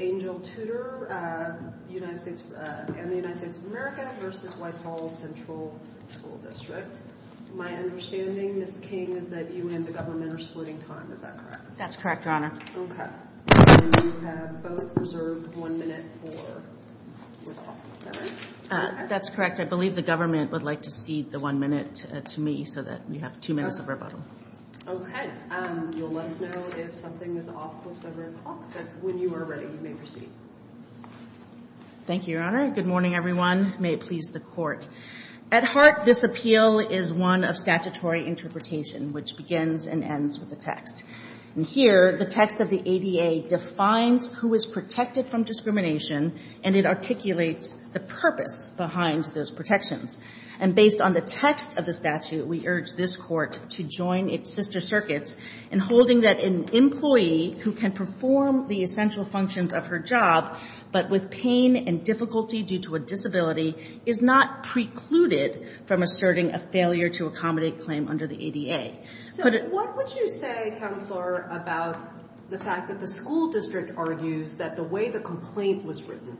My understanding, Ms. King, is that you and the government are splitting time, is that correct? That's correct, Your Honor. Okay. And you have both reserved one minute for rebuttal, correct? That's correct. I believe the government would like to cede the one minute to me so that we have two minutes of rebuttal. Okay. And you'll let us know if something is off with the rebuttal, but when you are ready, you may proceed. Thank you, Your Honor. Good morning, everyone. May it please the Court. At heart, this appeal is one of statutory interpretation, which begins and ends with the text. And here, the text of the ADA defines who is protected from discrimination, and it articulates the purpose behind those protections. And based on the text of the statute, we urge this Court to join its sister circuits in holding that an employee who can perform the essential functions of her job, but with pain and difficulty due to a disability, is not precluded from asserting a failure to accommodate claim under the ADA. So what would you say, Counselor, about the fact that the school district argues that the way the complaint was written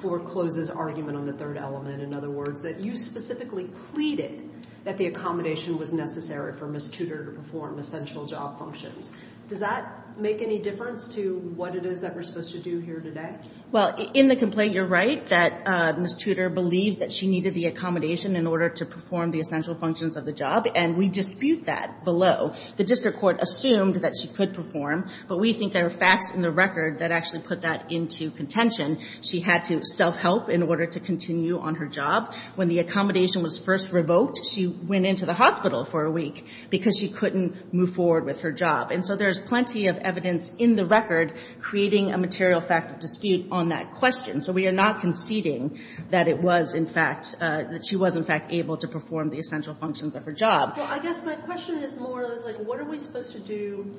forecloses argument on the third element, in other words, that you specifically pleaded that the accommodation was necessary for Ms. Tudor to perform essential job functions. Does that make any difference to what it is that we're supposed to do here today? Well, in the complaint, you're right that Ms. Tudor believes that she needed the accommodation in order to perform the essential functions of the job, and we dispute that below. The district court assumed that she could perform, but we think there are facts in the record that actually put that into contention. She had to self-help in order to continue on her job. When the accommodation was first revoked, she went into the hospital for a week because she couldn't move forward with her job. And so there's plenty of evidence in the record creating a material fact of dispute on that question. So we are not conceding that it was, in fact, that she was, in fact, able to perform the essential functions of her job. Well, I guess my question is more or less, like, what are we supposed to do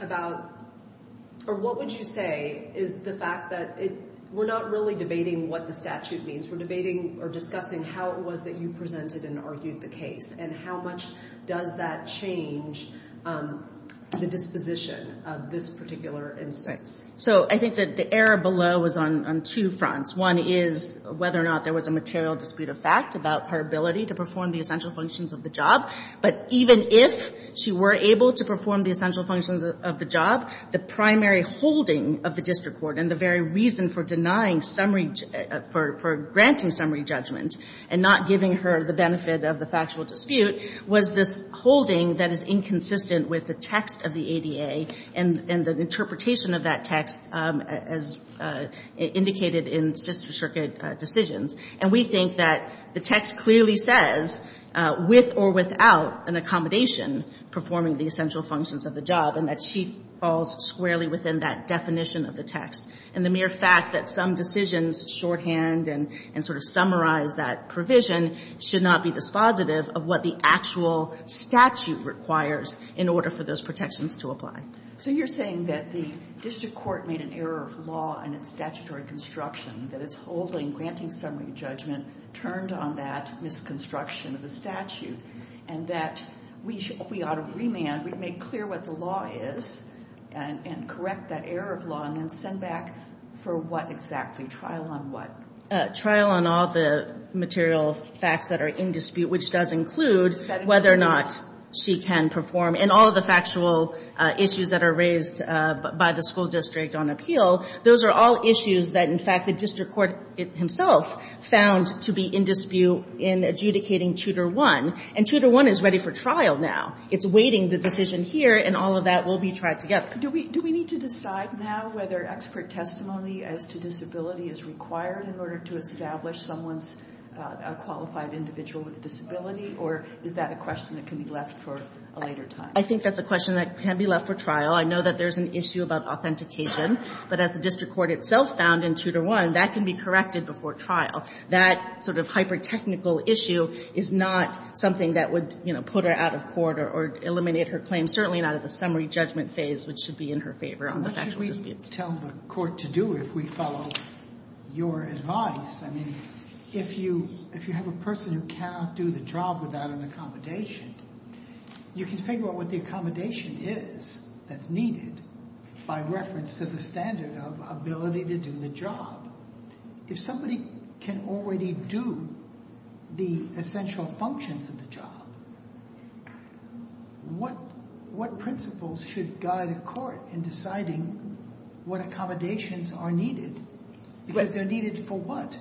about or what would you say is the fact that it, we're not really debating what the statute means. We're debating or discussing how it was that you presented and argued the case and how much does that change the disposition of this particular instance? So I think that the error below was on two fronts. One is whether or not there was a material dispute of fact about her ability to perform the essential functions of the job, but even if she were able to perform the essential functions of the job, the primary holding of the district court and the very reason for denying summary, for granting summary judgment and not giving her the benefit of the factual dispute was this holding that is inconsistent with the text of the ADA and the interpretation of that text as indicated in Sixth Circuit decisions. And we think that the text clearly says, with or without an accommodation, performing the essential functions of the job, and that she falls squarely within that definition of the text. And the mere fact that some decisions shorthand and sort of summarize that provision should not be dispositive of what the actual statute requires in order for those protections to apply. So you're saying that the district court made an error of law in its statutory construction, that it's holding granting summary judgment turned on that misconstruction of the statute, and that we ought to remand, we make clear what the law is and correct that error of law and then send back for what exactly, trial on what? Trial on all the material facts that are in dispute, which does include whether or not she can perform, and all of the factual issues that are raised by the school district on appeal, those are all issues that, in fact, the district court himself found to be in 2-1, and 2-1 is ready for trial now. It's awaiting the decision here, and all of that will be tried together. Do we need to decide now whether expert testimony as to disability is required in order to establish someone's qualified individual with a disability, or is that a question that can be left for a later time? I think that's a question that can be left for trial. I know that there's an issue about authentication, but as the district court itself found in 2-1, that can be corrected before trial. That sort of hyper-technical issue is not something that would, you know, put her out of court or eliminate her claim, certainly not at the summary judgment phase, which should be in her favor on the factual disputes. So what should we tell the court to do if we follow your advice? I mean, if you have a person who cannot do the job without an accommodation, you can figure out what the accommodation is that's needed by reference to the standard of ability to do the job. If somebody can already do the essential functions of the job, what principles should guide a court in deciding what accommodations are needed, because they're needed for what?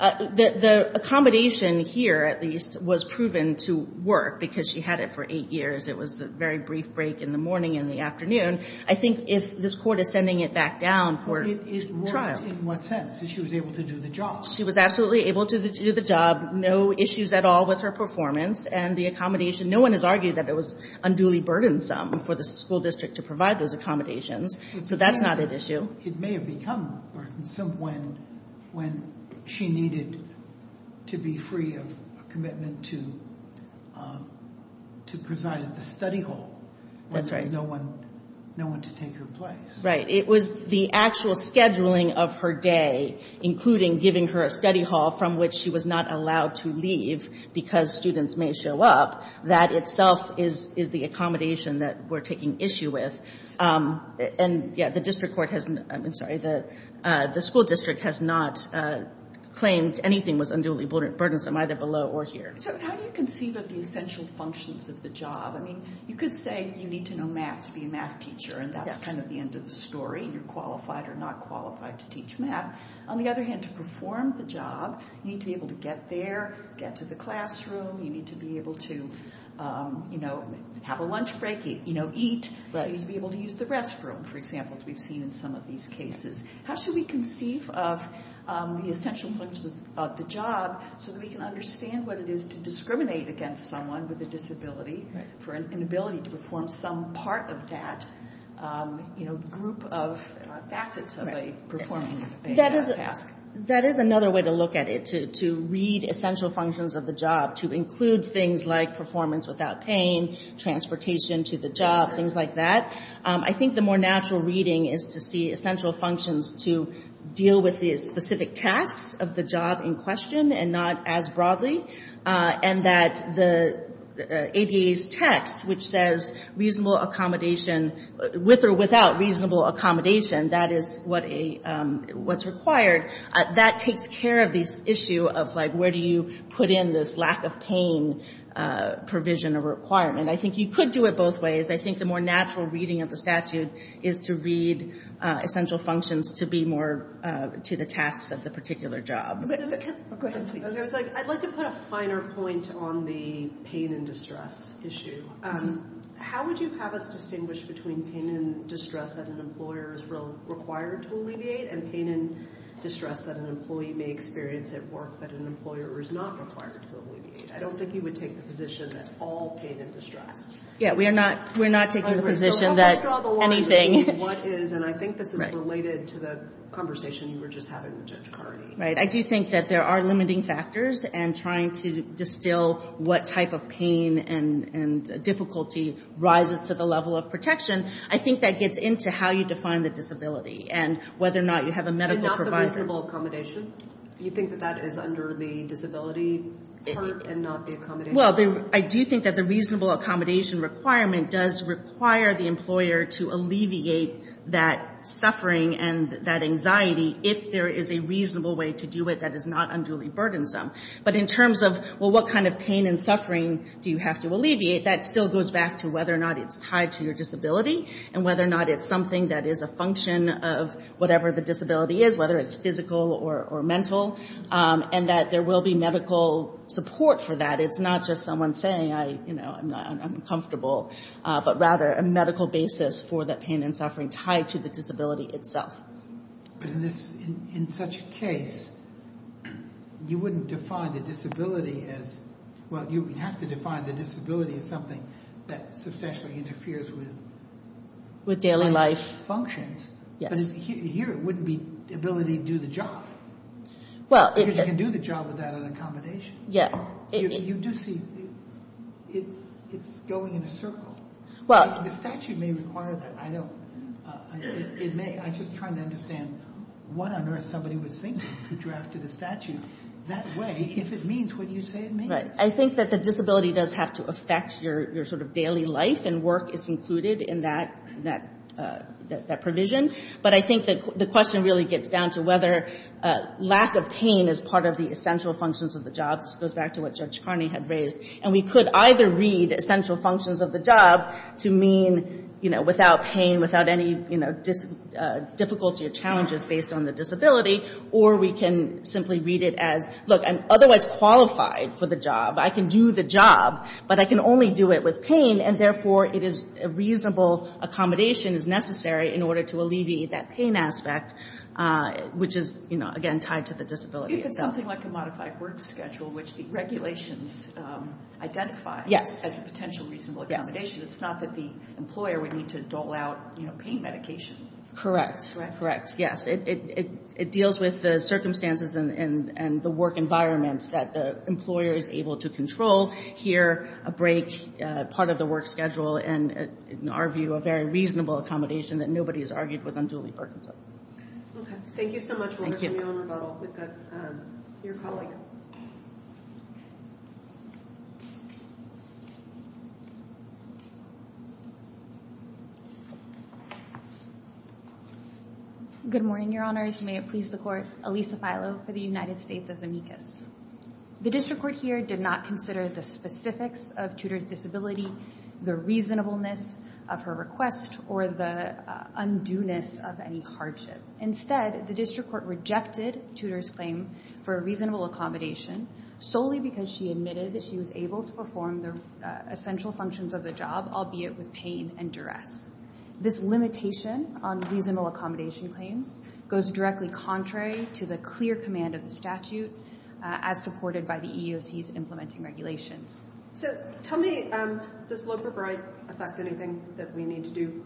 The accommodation here, at least, was proven to work because she had it for eight years. It was a very brief break in the morning and the afternoon. I think if this court is sending it back down for trial. It worked in what sense? That she was able to do the job. She was absolutely able to do the job. No issues at all with her performance and the accommodation. No one has argued that it was unduly burdensome for the school district to provide those accommodations, so that's not an issue. It may have become burdensome when she needed to be free of commitment to preside at the study hall. That's right. So there was no one to take her place. Right. It was the actual scheduling of her day, including giving her a study hall from which she was not allowed to leave because students may show up. That itself is the accommodation that we're taking issue with. And yeah, the school district has not claimed anything was unduly burdensome, either below or here. So how do you conceive of the essential functions of the job? I mean, you could say you need to know math to be a math teacher, and that's kind of the end of the story. You're qualified or not qualified to teach math. On the other hand, to perform the job, you need to be able to get there, get to the classroom, you need to be able to have a lunch break, eat, you need to be able to use the restroom, for example, as we've seen in some of these cases. How should we conceive of the essential functions of the job so that we can understand what it is to discriminate against someone with a disability for an inability to perform some part of that, you know, group of facets of a performance task? That is another way to look at it, to read essential functions of the job, to include things like performance without pain, transportation to the job, things like that. I think the more natural reading is to see essential functions to deal with the specific tasks of the job in question and not as broadly, and that the ADA's text, which says reasonable accommodation, with or without reasonable accommodation, that is what's required, that takes care of this issue of where do you put in this lack of pain provision or requirement. I think you could do it both ways. I think the more natural reading of the statute is to read essential functions to be more to the tasks of the particular job. Go ahead, please. I'd like to put a finer point on the pain and distress issue. How would you have us distinguish between pain and distress that an employer is required to alleviate and pain and distress that an employee may experience at work that an employer is not required to alleviate? I don't think you would take the position that it's all pain and distress. Yeah, we're not taking the position that anything... I mean, what is, and I think this is related to the conversation you were just having with Judge Carney. I do think that there are limiting factors and trying to distill what type of pain and difficulty rises to the level of protection. I think that gets into how you define the disability and whether or not you have a medical provider. And not the reasonable accommodation. Do you think that that is under the disability part and not the accommodation part? Well, I do think that the reasonable accommodation requirement does require the employer to alleviate that suffering and that anxiety if there is a reasonable way to do it that is not unduly burdensome. But in terms of, well, what kind of pain and suffering do you have to alleviate, that still goes back to whether or not it's tied to your disability and whether or not it's something that is a function of whatever the disability is, whether it's physical or mental. And that there will be medical support for that. It's not just someone saying, you know, I'm uncomfortable. But rather a medical basis for that pain and suffering tied to the disability itself. But in such a case, you wouldn't define the disability as, well, you would have to define the disability as something that substantially interferes with functions. But here it wouldn't be the ability to do the job. Because you can do the job without an accommodation. Yeah. You do see it's going in a circle. Well. The statute may require that. I don't. It may. I'm just trying to understand what on earth somebody was thinking who drafted the statute that way. If it means what you say it means. Right. I think that the disability does have to affect your sort of daily life and work is included in that provision. But I think the question really gets down to whether lack of pain is part of the essential functions of the job. This goes back to what Judge Carney had raised. And we could either read essential functions of the job to mean, you know, without pain, without any difficulty or challenges based on the disability. Or we can simply read it as, look, I'm otherwise qualified for the job. I can do the job. But I can only do it with pain. And therefore, a reasonable accommodation is necessary in order to alleviate that pain aspect, which is, you know, again tied to the disability itself. I think it's something like a modified work schedule, which the regulations identify as a potential reasonable accommodation. It's not that the employer would need to dole out, you know, pain medication. Correct. Correct. Yes. It deals with the circumstances and the work environment that the employer is able to control here, a break, part of the work schedule, and in our view, a very reasonable accommodation that nobody has argued was unduly burdensome. Okay. Thank you so much. We'll bring you on rebuttal with your colleague. Good morning, Your Honors. May it please the Court. Elisa Filo for the United States as amicus. The district court here did not consider the specifics of Tudor's disability, the reasonableness of her request, or the undueness of any hardship. Instead, the district court rejected Tudor's claim for a reasonable accommodation solely because she admitted that she was able to perform the essential functions of the job, albeit with pain and duress. This limitation on reasonable accommodation claims goes directly contrary to the clear command of the statute as supported by the EEOC's implementing regulations. So tell me, does Loper-Bride affect anything that we need to do?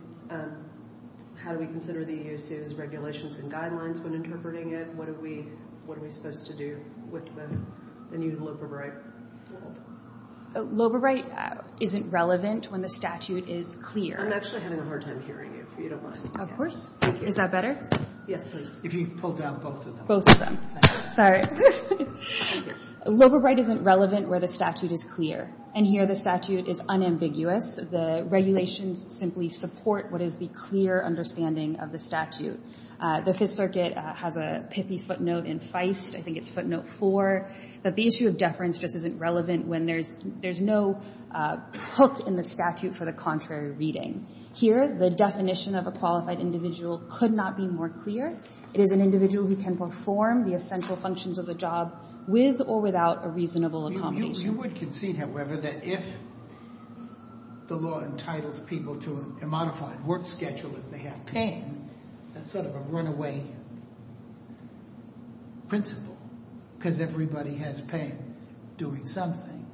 How do we consider the EEOC's regulations and guidelines when interpreting it? What are we supposed to do with the new Loper-Bride rule? Loper-Bride isn't relevant when the statute is clear. I'm actually having a hard time hearing you, if you don't mind. Of course. Is that better? Yes, please. If you pull down both of them. Both of them. Sorry. Loper-Bride isn't relevant where the statute is clear, and here the statute is unambiguous. The regulations simply support what is the clear understanding of the statute. The Fifth Circuit has a pithy footnote in Feist, I think it's footnote 4, that the issue of deference just isn't relevant when there's no hook in the statute for the contrary reading. Here the definition of a qualified individual could not be more clear. It is an individual who can perform the essential functions of the job with or without a reasonable accommodation. You would concede, however, that if the law entitles people to a modified work schedule if they have pain, that's sort of a runaway principle because everybody has pain doing something,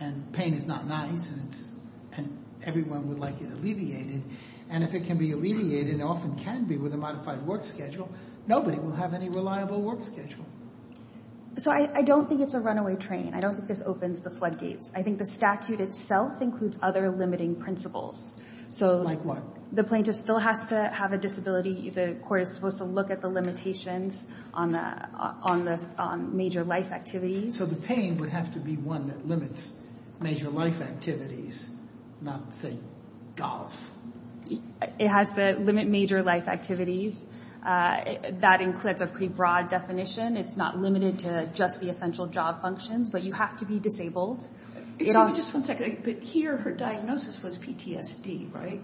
and pain is not nice, and everyone would like it alleviated, and if it can be alleviated, it often can be with a modified work schedule, nobody will have any reliable work schedule. So I don't think it's a runaway train. I don't think this opens the floodgates. I think the statute itself includes other limiting principles. So the plaintiff still has to have a disability. The court is supposed to look at the limitations on the major life activities. So the pain would have to be one that limits major life activities, not, say, golf. It has to limit major life activities. That includes a pretty broad definition. It's not limited to just the essential job functions, but you have to be disabled. Excuse me, just one second. But here, her diagnosis was PTSD, right?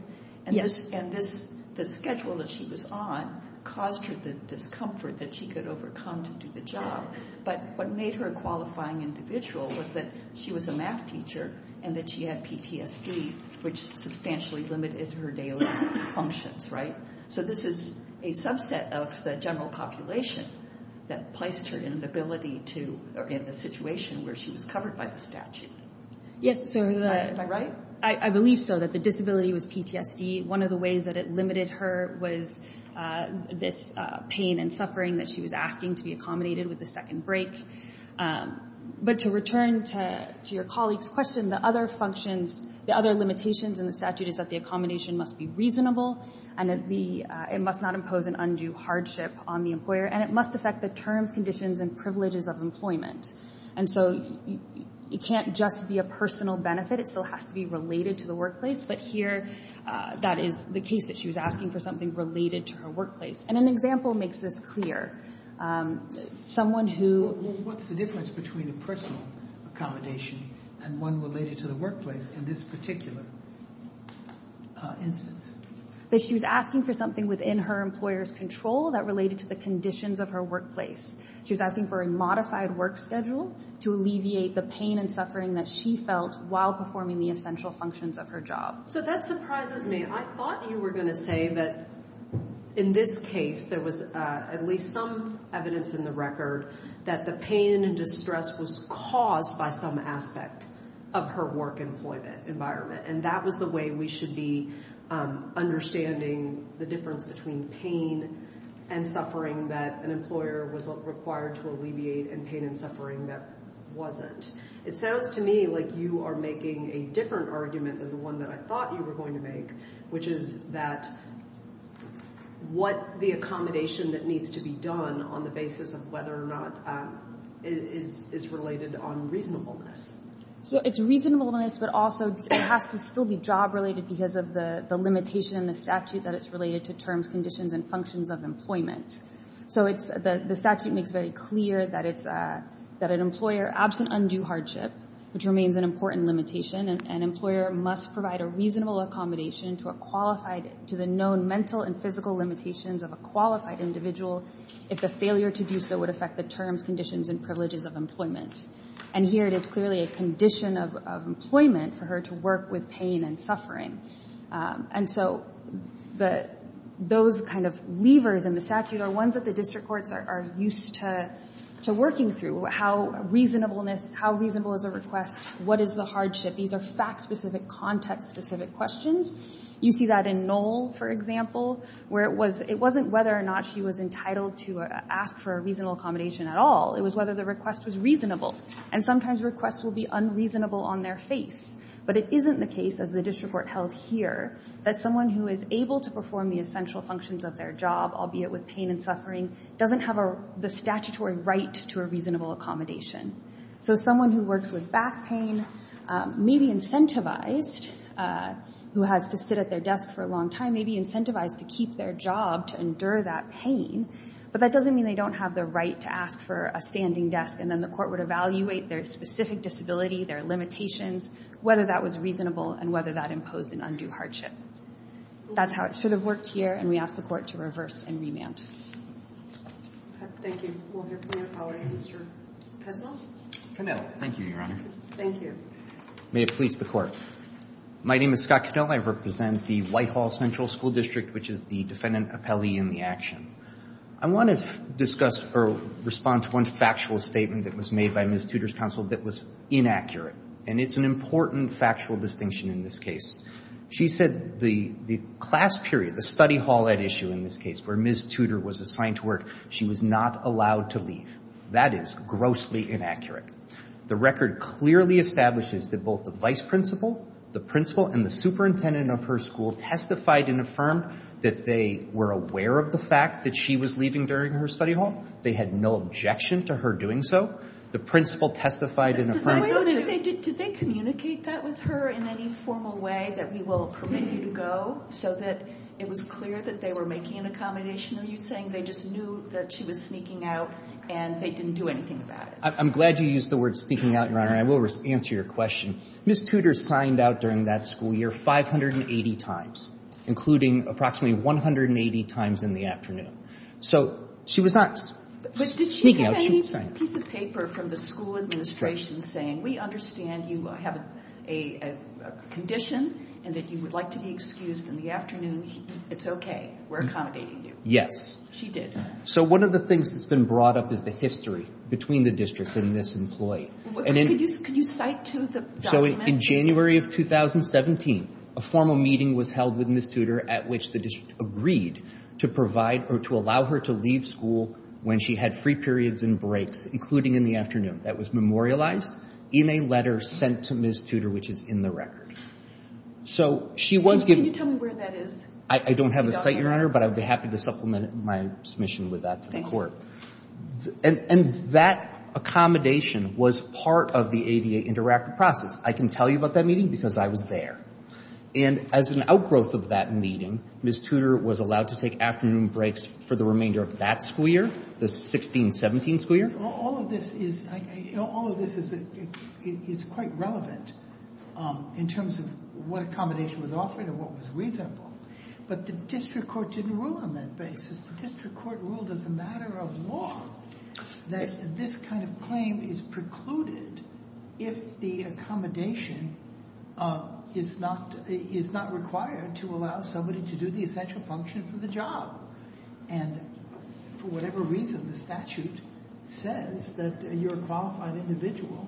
Yes. And the schedule that she was on caused her the discomfort that she could overcome to do the job, but what made her a qualifying individual was that she was a math teacher and that she had PTSD, which substantially limited her daily functions, right? So this is a subset of the general population that placed her in the situation where she was covered by the statute. Yes. Am I right? I believe so, that the disability was PTSD. One of the ways that it limited her was this pain and suffering that she was asking to be accommodated with the second break. But to return to your colleague's question, the other limitations in the statute is that it must not impose an undue hardship on the employer, and it must affect the terms, conditions, and privileges of employment. And so it can't just be a personal benefit. It still has to be related to the workplace. But here, that is the case that she was asking for something related to her workplace. And an example makes this clear. Someone who— Well, what's the difference between a personal accommodation and one related to the workplace in this particular instance? That she was asking for something within her employer's control that related to the conditions of her workplace. She was asking for a modified work schedule to alleviate the pain and suffering that she felt while performing the essential functions of her job. So that surprises me. I thought you were going to say that in this case, there was at least some evidence in the record that the pain and distress was caused by some aspect of her work environment. And that was the way we should be understanding the difference between pain and suffering that an employer was required to alleviate and pain and suffering that wasn't. It sounds to me like you are making a different argument than the one that I thought you were going to make, which is that what the accommodation that needs to be done on the basis of whether or not it is related on reasonableness. So it's reasonableness, but also it has to still be job-related because of the limitation in the statute that it's related to terms, conditions, and functions of employment. So the statute makes very clear that an employer, absent undue hardship, which remains an important limitation, an employer must provide a reasonable accommodation to a qualified—to the known mental and physical limitations of a qualified individual if the failure to do so would affect the terms, conditions, and privileges of employment. And here it is clearly a condition of employment for her to work with pain and suffering. And so those kind of levers in the statute are ones that the district courts are used to working through. How reasonable is a request? What is the hardship? These are fact-specific, context-specific questions. You see that in Knoll, for example, where it wasn't whether or not she was entitled to ask for a reasonable accommodation at all. It was whether the request was reasonable. And sometimes requests will be unreasonable on their face. But it isn't the case, as the district court held here, that someone who is able to perform the essential functions of their job, albeit with pain and suffering, doesn't have the statutory right to a reasonable accommodation. So someone who works with back pain may be incentivized, who has to sit at their desk for a long time, may be incentivized to keep their job to endure that pain, but that doesn't mean they don't have the right to ask for a standing desk, and then the court would evaluate their specific disability, their limitations, whether that was reasonable and whether that imposed an undue hardship. That's how it should have worked here, and we ask the Court to reverse and remand. Thank you. We'll hear from your colleague, Mr. Knoll. Knoll. Thank you, Your Honor. Thank you. May it please the Court. My name is Scott Knoll. I represent the Whitehall Central School District, which is the defendant appellee in the action. I want to discuss or respond to one factual statement that was made by Ms. Tudor's counsel that was inaccurate, and it's an important factual distinction in this case. She said the class period, the study hall at issue in this case where Ms. Tudor was assigned to work, she was not allowed to leave. That is grossly inaccurate. The record clearly establishes that both the vice principal, the principal, and the superintendent of her school testified and affirmed that they were aware of the fact that she was leaving during her study hall. They had no objection to her doing so. The principal testified and affirmed. Wait a minute. Did they communicate that with her in any formal way that we will permit you to go so that it was clear that they were making an accommodation? Are you saying they just knew that she was sneaking out and they didn't do anything about it? I'm glad you used the word sneaking out, Your Honor, and I will answer your question. Ms. Tudor signed out during that school year 580 times, including approximately 180 times in the afternoon. So she was not sneaking out. But did she have any piece of paper from the school administration saying, we understand you have a condition and that you would like to be excused in the It's okay. We're accommodating you. Yes. She did. So one of the things that's been brought up is the history between the district and this employee. Can you cite to the document? So in January of 2017, a formal meeting was held with Ms. Tudor at which the district agreed to provide or to allow her to leave school when she had free periods and breaks, including in the afternoon. That was memorialized in a letter sent to Ms. Tudor, which is in the record. Can you tell me where that is? I don't have the site, Your Honor, but I would be happy to supplement my submission with that to the court. Thank you. And that accommodation was part of the ADA interactive process. I can tell you about that meeting because I was there. And as an outgrowth of that meeting, Ms. Tudor was allowed to take afternoon breaks for the remainder of that school year, the 16-17 school year. All of this is quite relevant in terms of what accommodation was offered and what was reasonable. But the district court didn't rule on that basis. The district court ruled as a matter of law that this kind of claim is precluded if the accommodation is not required to allow somebody to do the essential functions of the job. And for whatever reason, the statute says that you're a qualified individual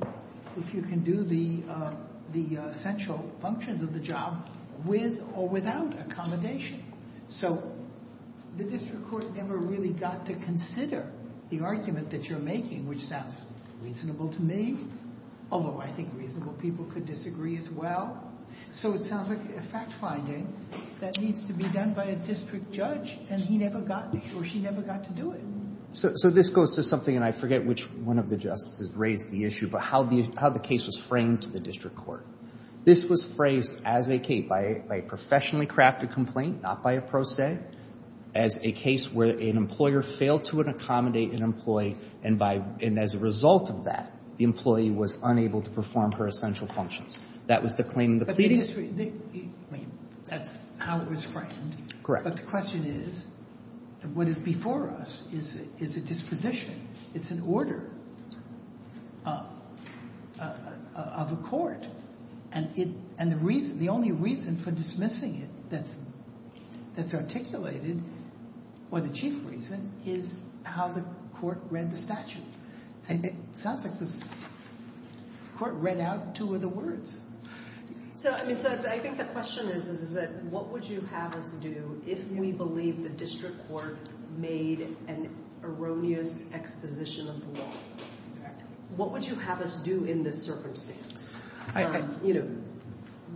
if you can do the essential functions of the job with or without accommodation. So the district court never really got to consider the argument that you're making, which sounds reasonable to me, although I think reasonable people could disagree as well. So it sounds like a fact finding that needs to be done by a district judge, and he never got to or she never got to do it. So this goes to something, and I forget which one of the justices raised the issue, but how the case was framed to the district court. This was phrased as a case, by a professionally crafted complaint, not by a pro se, as a case where an employer failed to accommodate an employee, and as a result of that, the employee was unable to perform her essential functions. That was the claim in the pleading. Sotomayor That's how it was framed. But the question is, what is before us is a disposition. It's an order of a court, and the only reason for dismissing it that's articulated, or the chief reason, is how the court read the statute. It sounds like the court read out two of the words. So I think the question is, is that what would you have us do if we believe the district court made an erroneous exposition of the law? What would you have us do in this circumstance?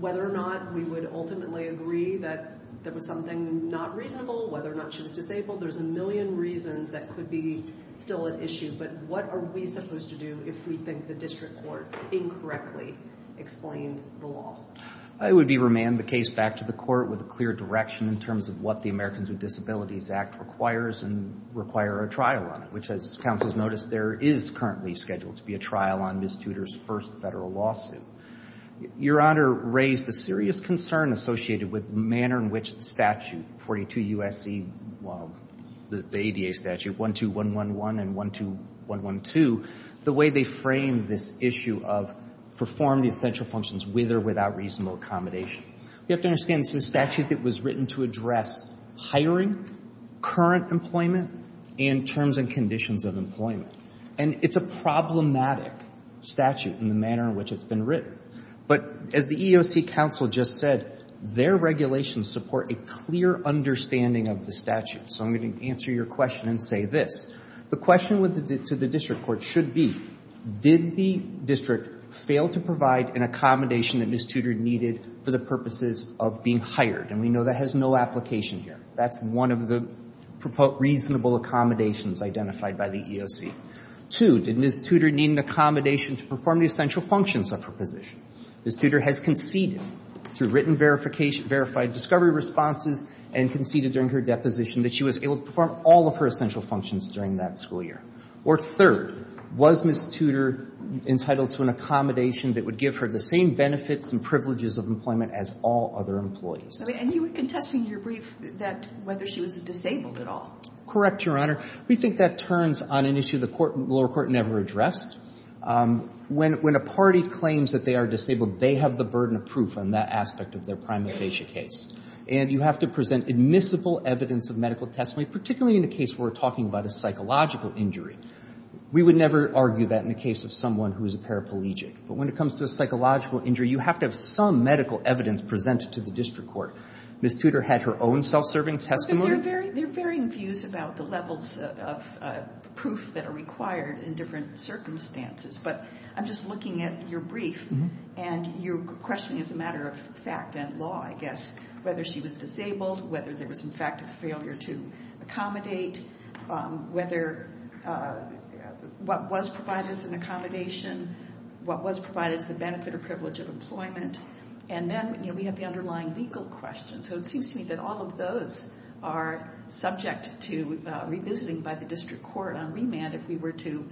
Whether or not we would ultimately agree that there was something not reasonable, whether or not she was disabled, there's a million reasons that could be still an issue, but what are we supposed to do if we think the district court incorrectly explained the law? I would be remand the case back to the court with a clear direction in terms of what the Americans with Disabilities Act requires and require a trial on it, which, as counsel has noticed, there is currently scheduled to be a trial on Ms. Tudor's first federal lawsuit. Your Honor raised the serious concern associated with the manner in which the statute, 42 U.S.C., well, the ADA statute, 12111 and 12112, the way they frame this issue of perform the essential functions with or without reasonable accommodation. You have to understand this is a statute that was written to address hiring, current employment, and terms and conditions of employment. And it's a problematic statute in the manner in which it's been written. But as the EEOC counsel just said, their regulations support a clear understanding of the statute. So I'm going to answer your question and say this. The question to the district court should be, did the district fail to provide an accommodation that Ms. Tudor needed for the purposes of being hired? And we know that has no application here. That's one of the reasonable accommodations identified by the EEOC. Two, did Ms. Tudor need an accommodation to perform the essential functions of her position? Ms. Tudor has conceded through written verification, verified discovery responses and conceded during her deposition that she was able to perform all of her essential functions during that school year. Or third, was Ms. Tudor entitled to an accommodation that would give her the same benefits and privileges of employment as all other employees? And you were contesting in your brief that whether she was disabled at all. Correct, Your Honor. We think that turns on an issue the lower court never addressed. When a party claims that they are disabled, they have the burden of proof on that aspect of their prima facie case. And you have to present admissible evidence of medical testimony, particularly in a case where we're talking about a psychological injury. We would never argue that in a case of someone who is a paraplegic. But when it comes to a psychological injury, you have to have some medical evidence presented to the district court. Ms. Tudor had her own self-serving testimony. They're varying views about the levels of proof that are required in different circumstances. But I'm just looking at your brief, and you're questioning as a matter of fact and law, I guess, whether she was disabled, whether there was, in fact, a failure to accommodate, whether what was provided as an accommodation, what was provided as a benefit or privilege of employment. And then we have the underlying legal question. So it seems to me that all of those are subject to revisiting by the district court on remand if we were to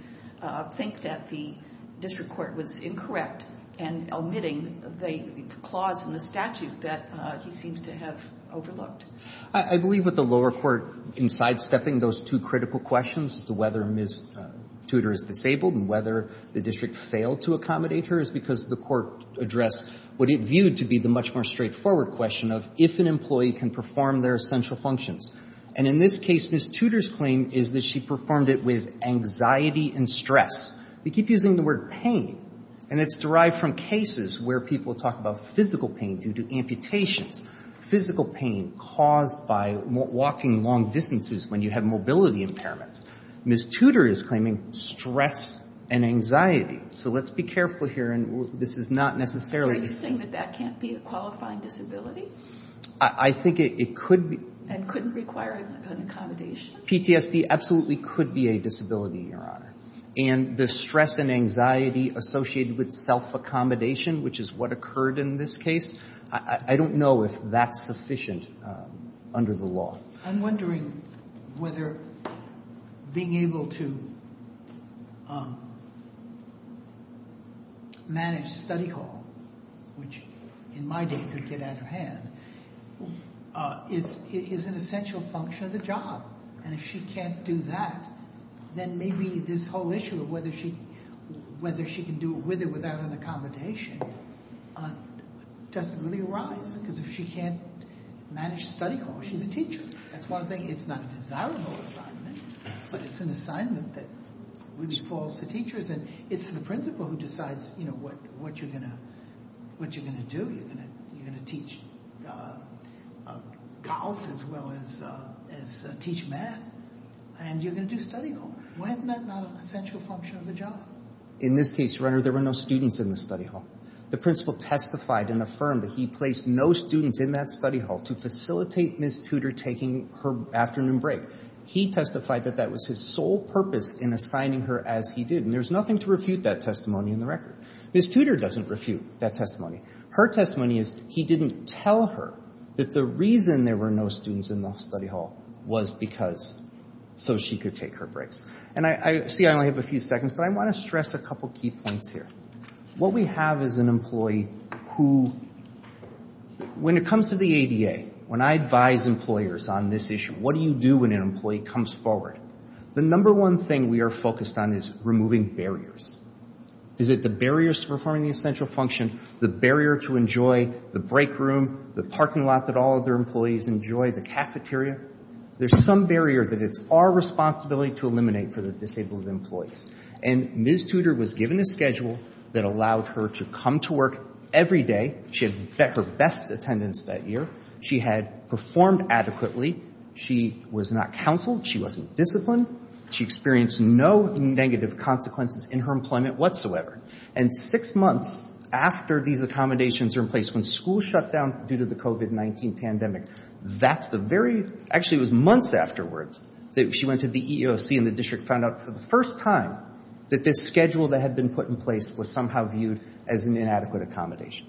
think that the district court was incorrect and omitting the clause in the statute that he seems to have overlooked. I believe what the lower court, in sidestepping those two critical questions as to whether Ms. Tudor is disabled and whether the district failed to accommodate her, is because the court addressed what it viewed to be the much more straightforward question of if an employee can perform their essential functions. And in this case, Ms. Tudor's claim is that she performed it with anxiety and stress. We keep using the word pain, and it's derived from cases where people talk about physical pain due to amputations, physical pain caused by walking long distances when you have mobility impairments. Ms. Tudor is claiming stress and anxiety. So let's be careful here, and this is not necessarily the case. Are you saying that that can't be a qualifying disability? I think it could be. And couldn't require an accommodation? PTSD absolutely could be a disability, Your Honor. And the stress and anxiety associated with self-accommodation, which is what occurred in this case, I don't know if that's sufficient under the law. I'm wondering whether being able to manage study hall, which in my day could get out of hand, is an essential function of the job. And if she can't do that, then maybe this whole issue of whether she can do it with without an accommodation doesn't really arise, because if she can't manage study hall, she's a teacher. That's one thing. It's not a desirable assignment, but it's an assignment which falls to teachers, and it's the principal who decides what you're going to do. You're going to teach golf as well as teach math, and you're going to do study hall. Why isn't that not an essential function of the job? In this case, Your Honor, there were no students in the study hall. The principal testified and affirmed that he placed no students in that study hall to facilitate Ms. Tudor taking her afternoon break. He testified that that was his sole purpose in assigning her as he did, and there's nothing to refute that testimony in the record. Ms. Tudor doesn't refute that testimony. Her testimony is he didn't tell her that the reason there were no students in the study hall was because so she could take her breaks. And I see I only have a few seconds, but I want to stress a couple key points here. What we have is an employee who, when it comes to the ADA, when I advise employers on this issue, what do you do when an employee comes forward, the number one thing we are focused on is removing barriers. Is it the barriers to performing the essential function, the barrier to enjoy the break room, the parking lot that all of their employees enjoy, the cafeteria? There's some barrier that it's our responsibility to eliminate for the disabled employees. And Ms. Tudor was given a schedule that allowed her to come to work every day. She had her best attendance that year. She had performed adequately. She was not counseled. She wasn't disciplined. She experienced no negative consequences in her employment whatsoever. And six months after these accommodations are in place, when schools shut down due to the COVID-19 pandemic, that's the very, actually it was months afterwards that she went to the EEOC and the district found out for the first time that this schedule that had been put in place was somehow viewed as an inadequate accommodation.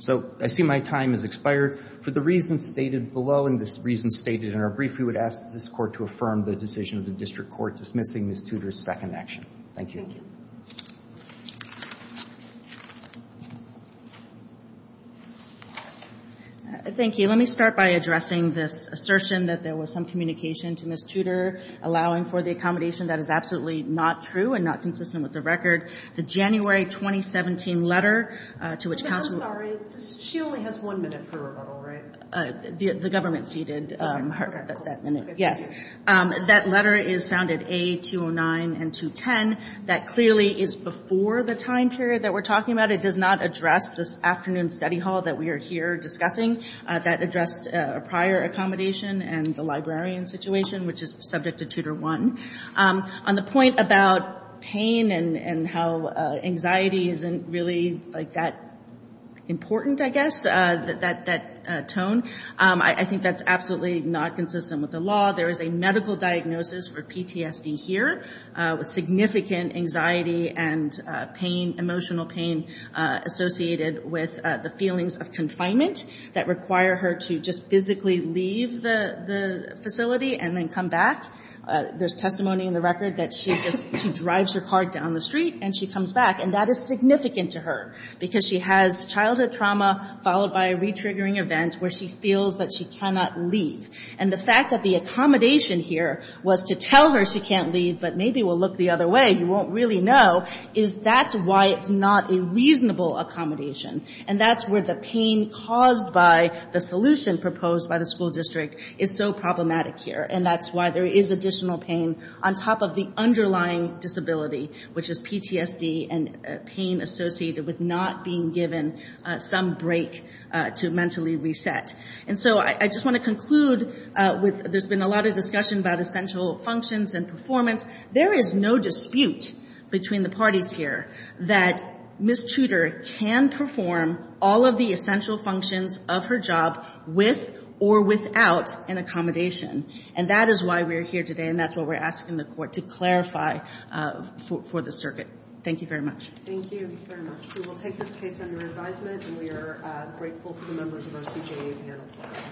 So I see my time has expired. For the reasons stated below and the reasons stated in our brief, we would ask that this Court to affirm the decision of the district court dismissing Ms. Tudor's second action. Thank you. Thank you. Thank you. Let me start by addressing this assertion that there was some communication to Ms. Tudor allowing for the accommodation. That is absolutely not true and not consistent with the record. The January 2017 letter to which counsel. She only has one minute for rebuttal, right? The government ceded that minute. Yes. That letter is found at A209 and 210. That clearly is before the time period that we're talking about. It does not address this afternoon's study hall that we are here discussing. That addressed a prior accommodation and the librarian situation, which is subject to Tudor I. On the point about pain and how anxiety isn't really that important, I guess, that tone, I think that's absolutely not consistent with the law. There is a medical diagnosis for PTSD here with significant anxiety and pain, emotional pain associated with the feelings of confinement that require her to just physically leave the facility and then come back. There's testimony in the record that she just drives her car down the street and she comes back. And that is significant to her because she has childhood trauma followed by a retriggering event where she feels that she cannot leave. And the fact that the accommodation here was to tell her she can't leave, but maybe we'll look the other way, you won't really know, is that's why it's not a reasonable accommodation. And that's where the pain caused by the solution proposed by the school district is so problematic here. And that's why there is additional pain on top of the underlying disability, which is PTSD and pain associated with not being given some break to mentally reset. And so I just want to conclude with there's been a lot of discussion about essential functions and performance. There is no dispute between the parties here that Ms. Tudor can perform all of the essential functions of her job with or without an accommodation. And that is why we are here today, and that's why we're asking the Court to clarify for the circuit. Thank you very much. Thank you very much. We will take this case under advisement, and we are grateful to the members of our CJA panel.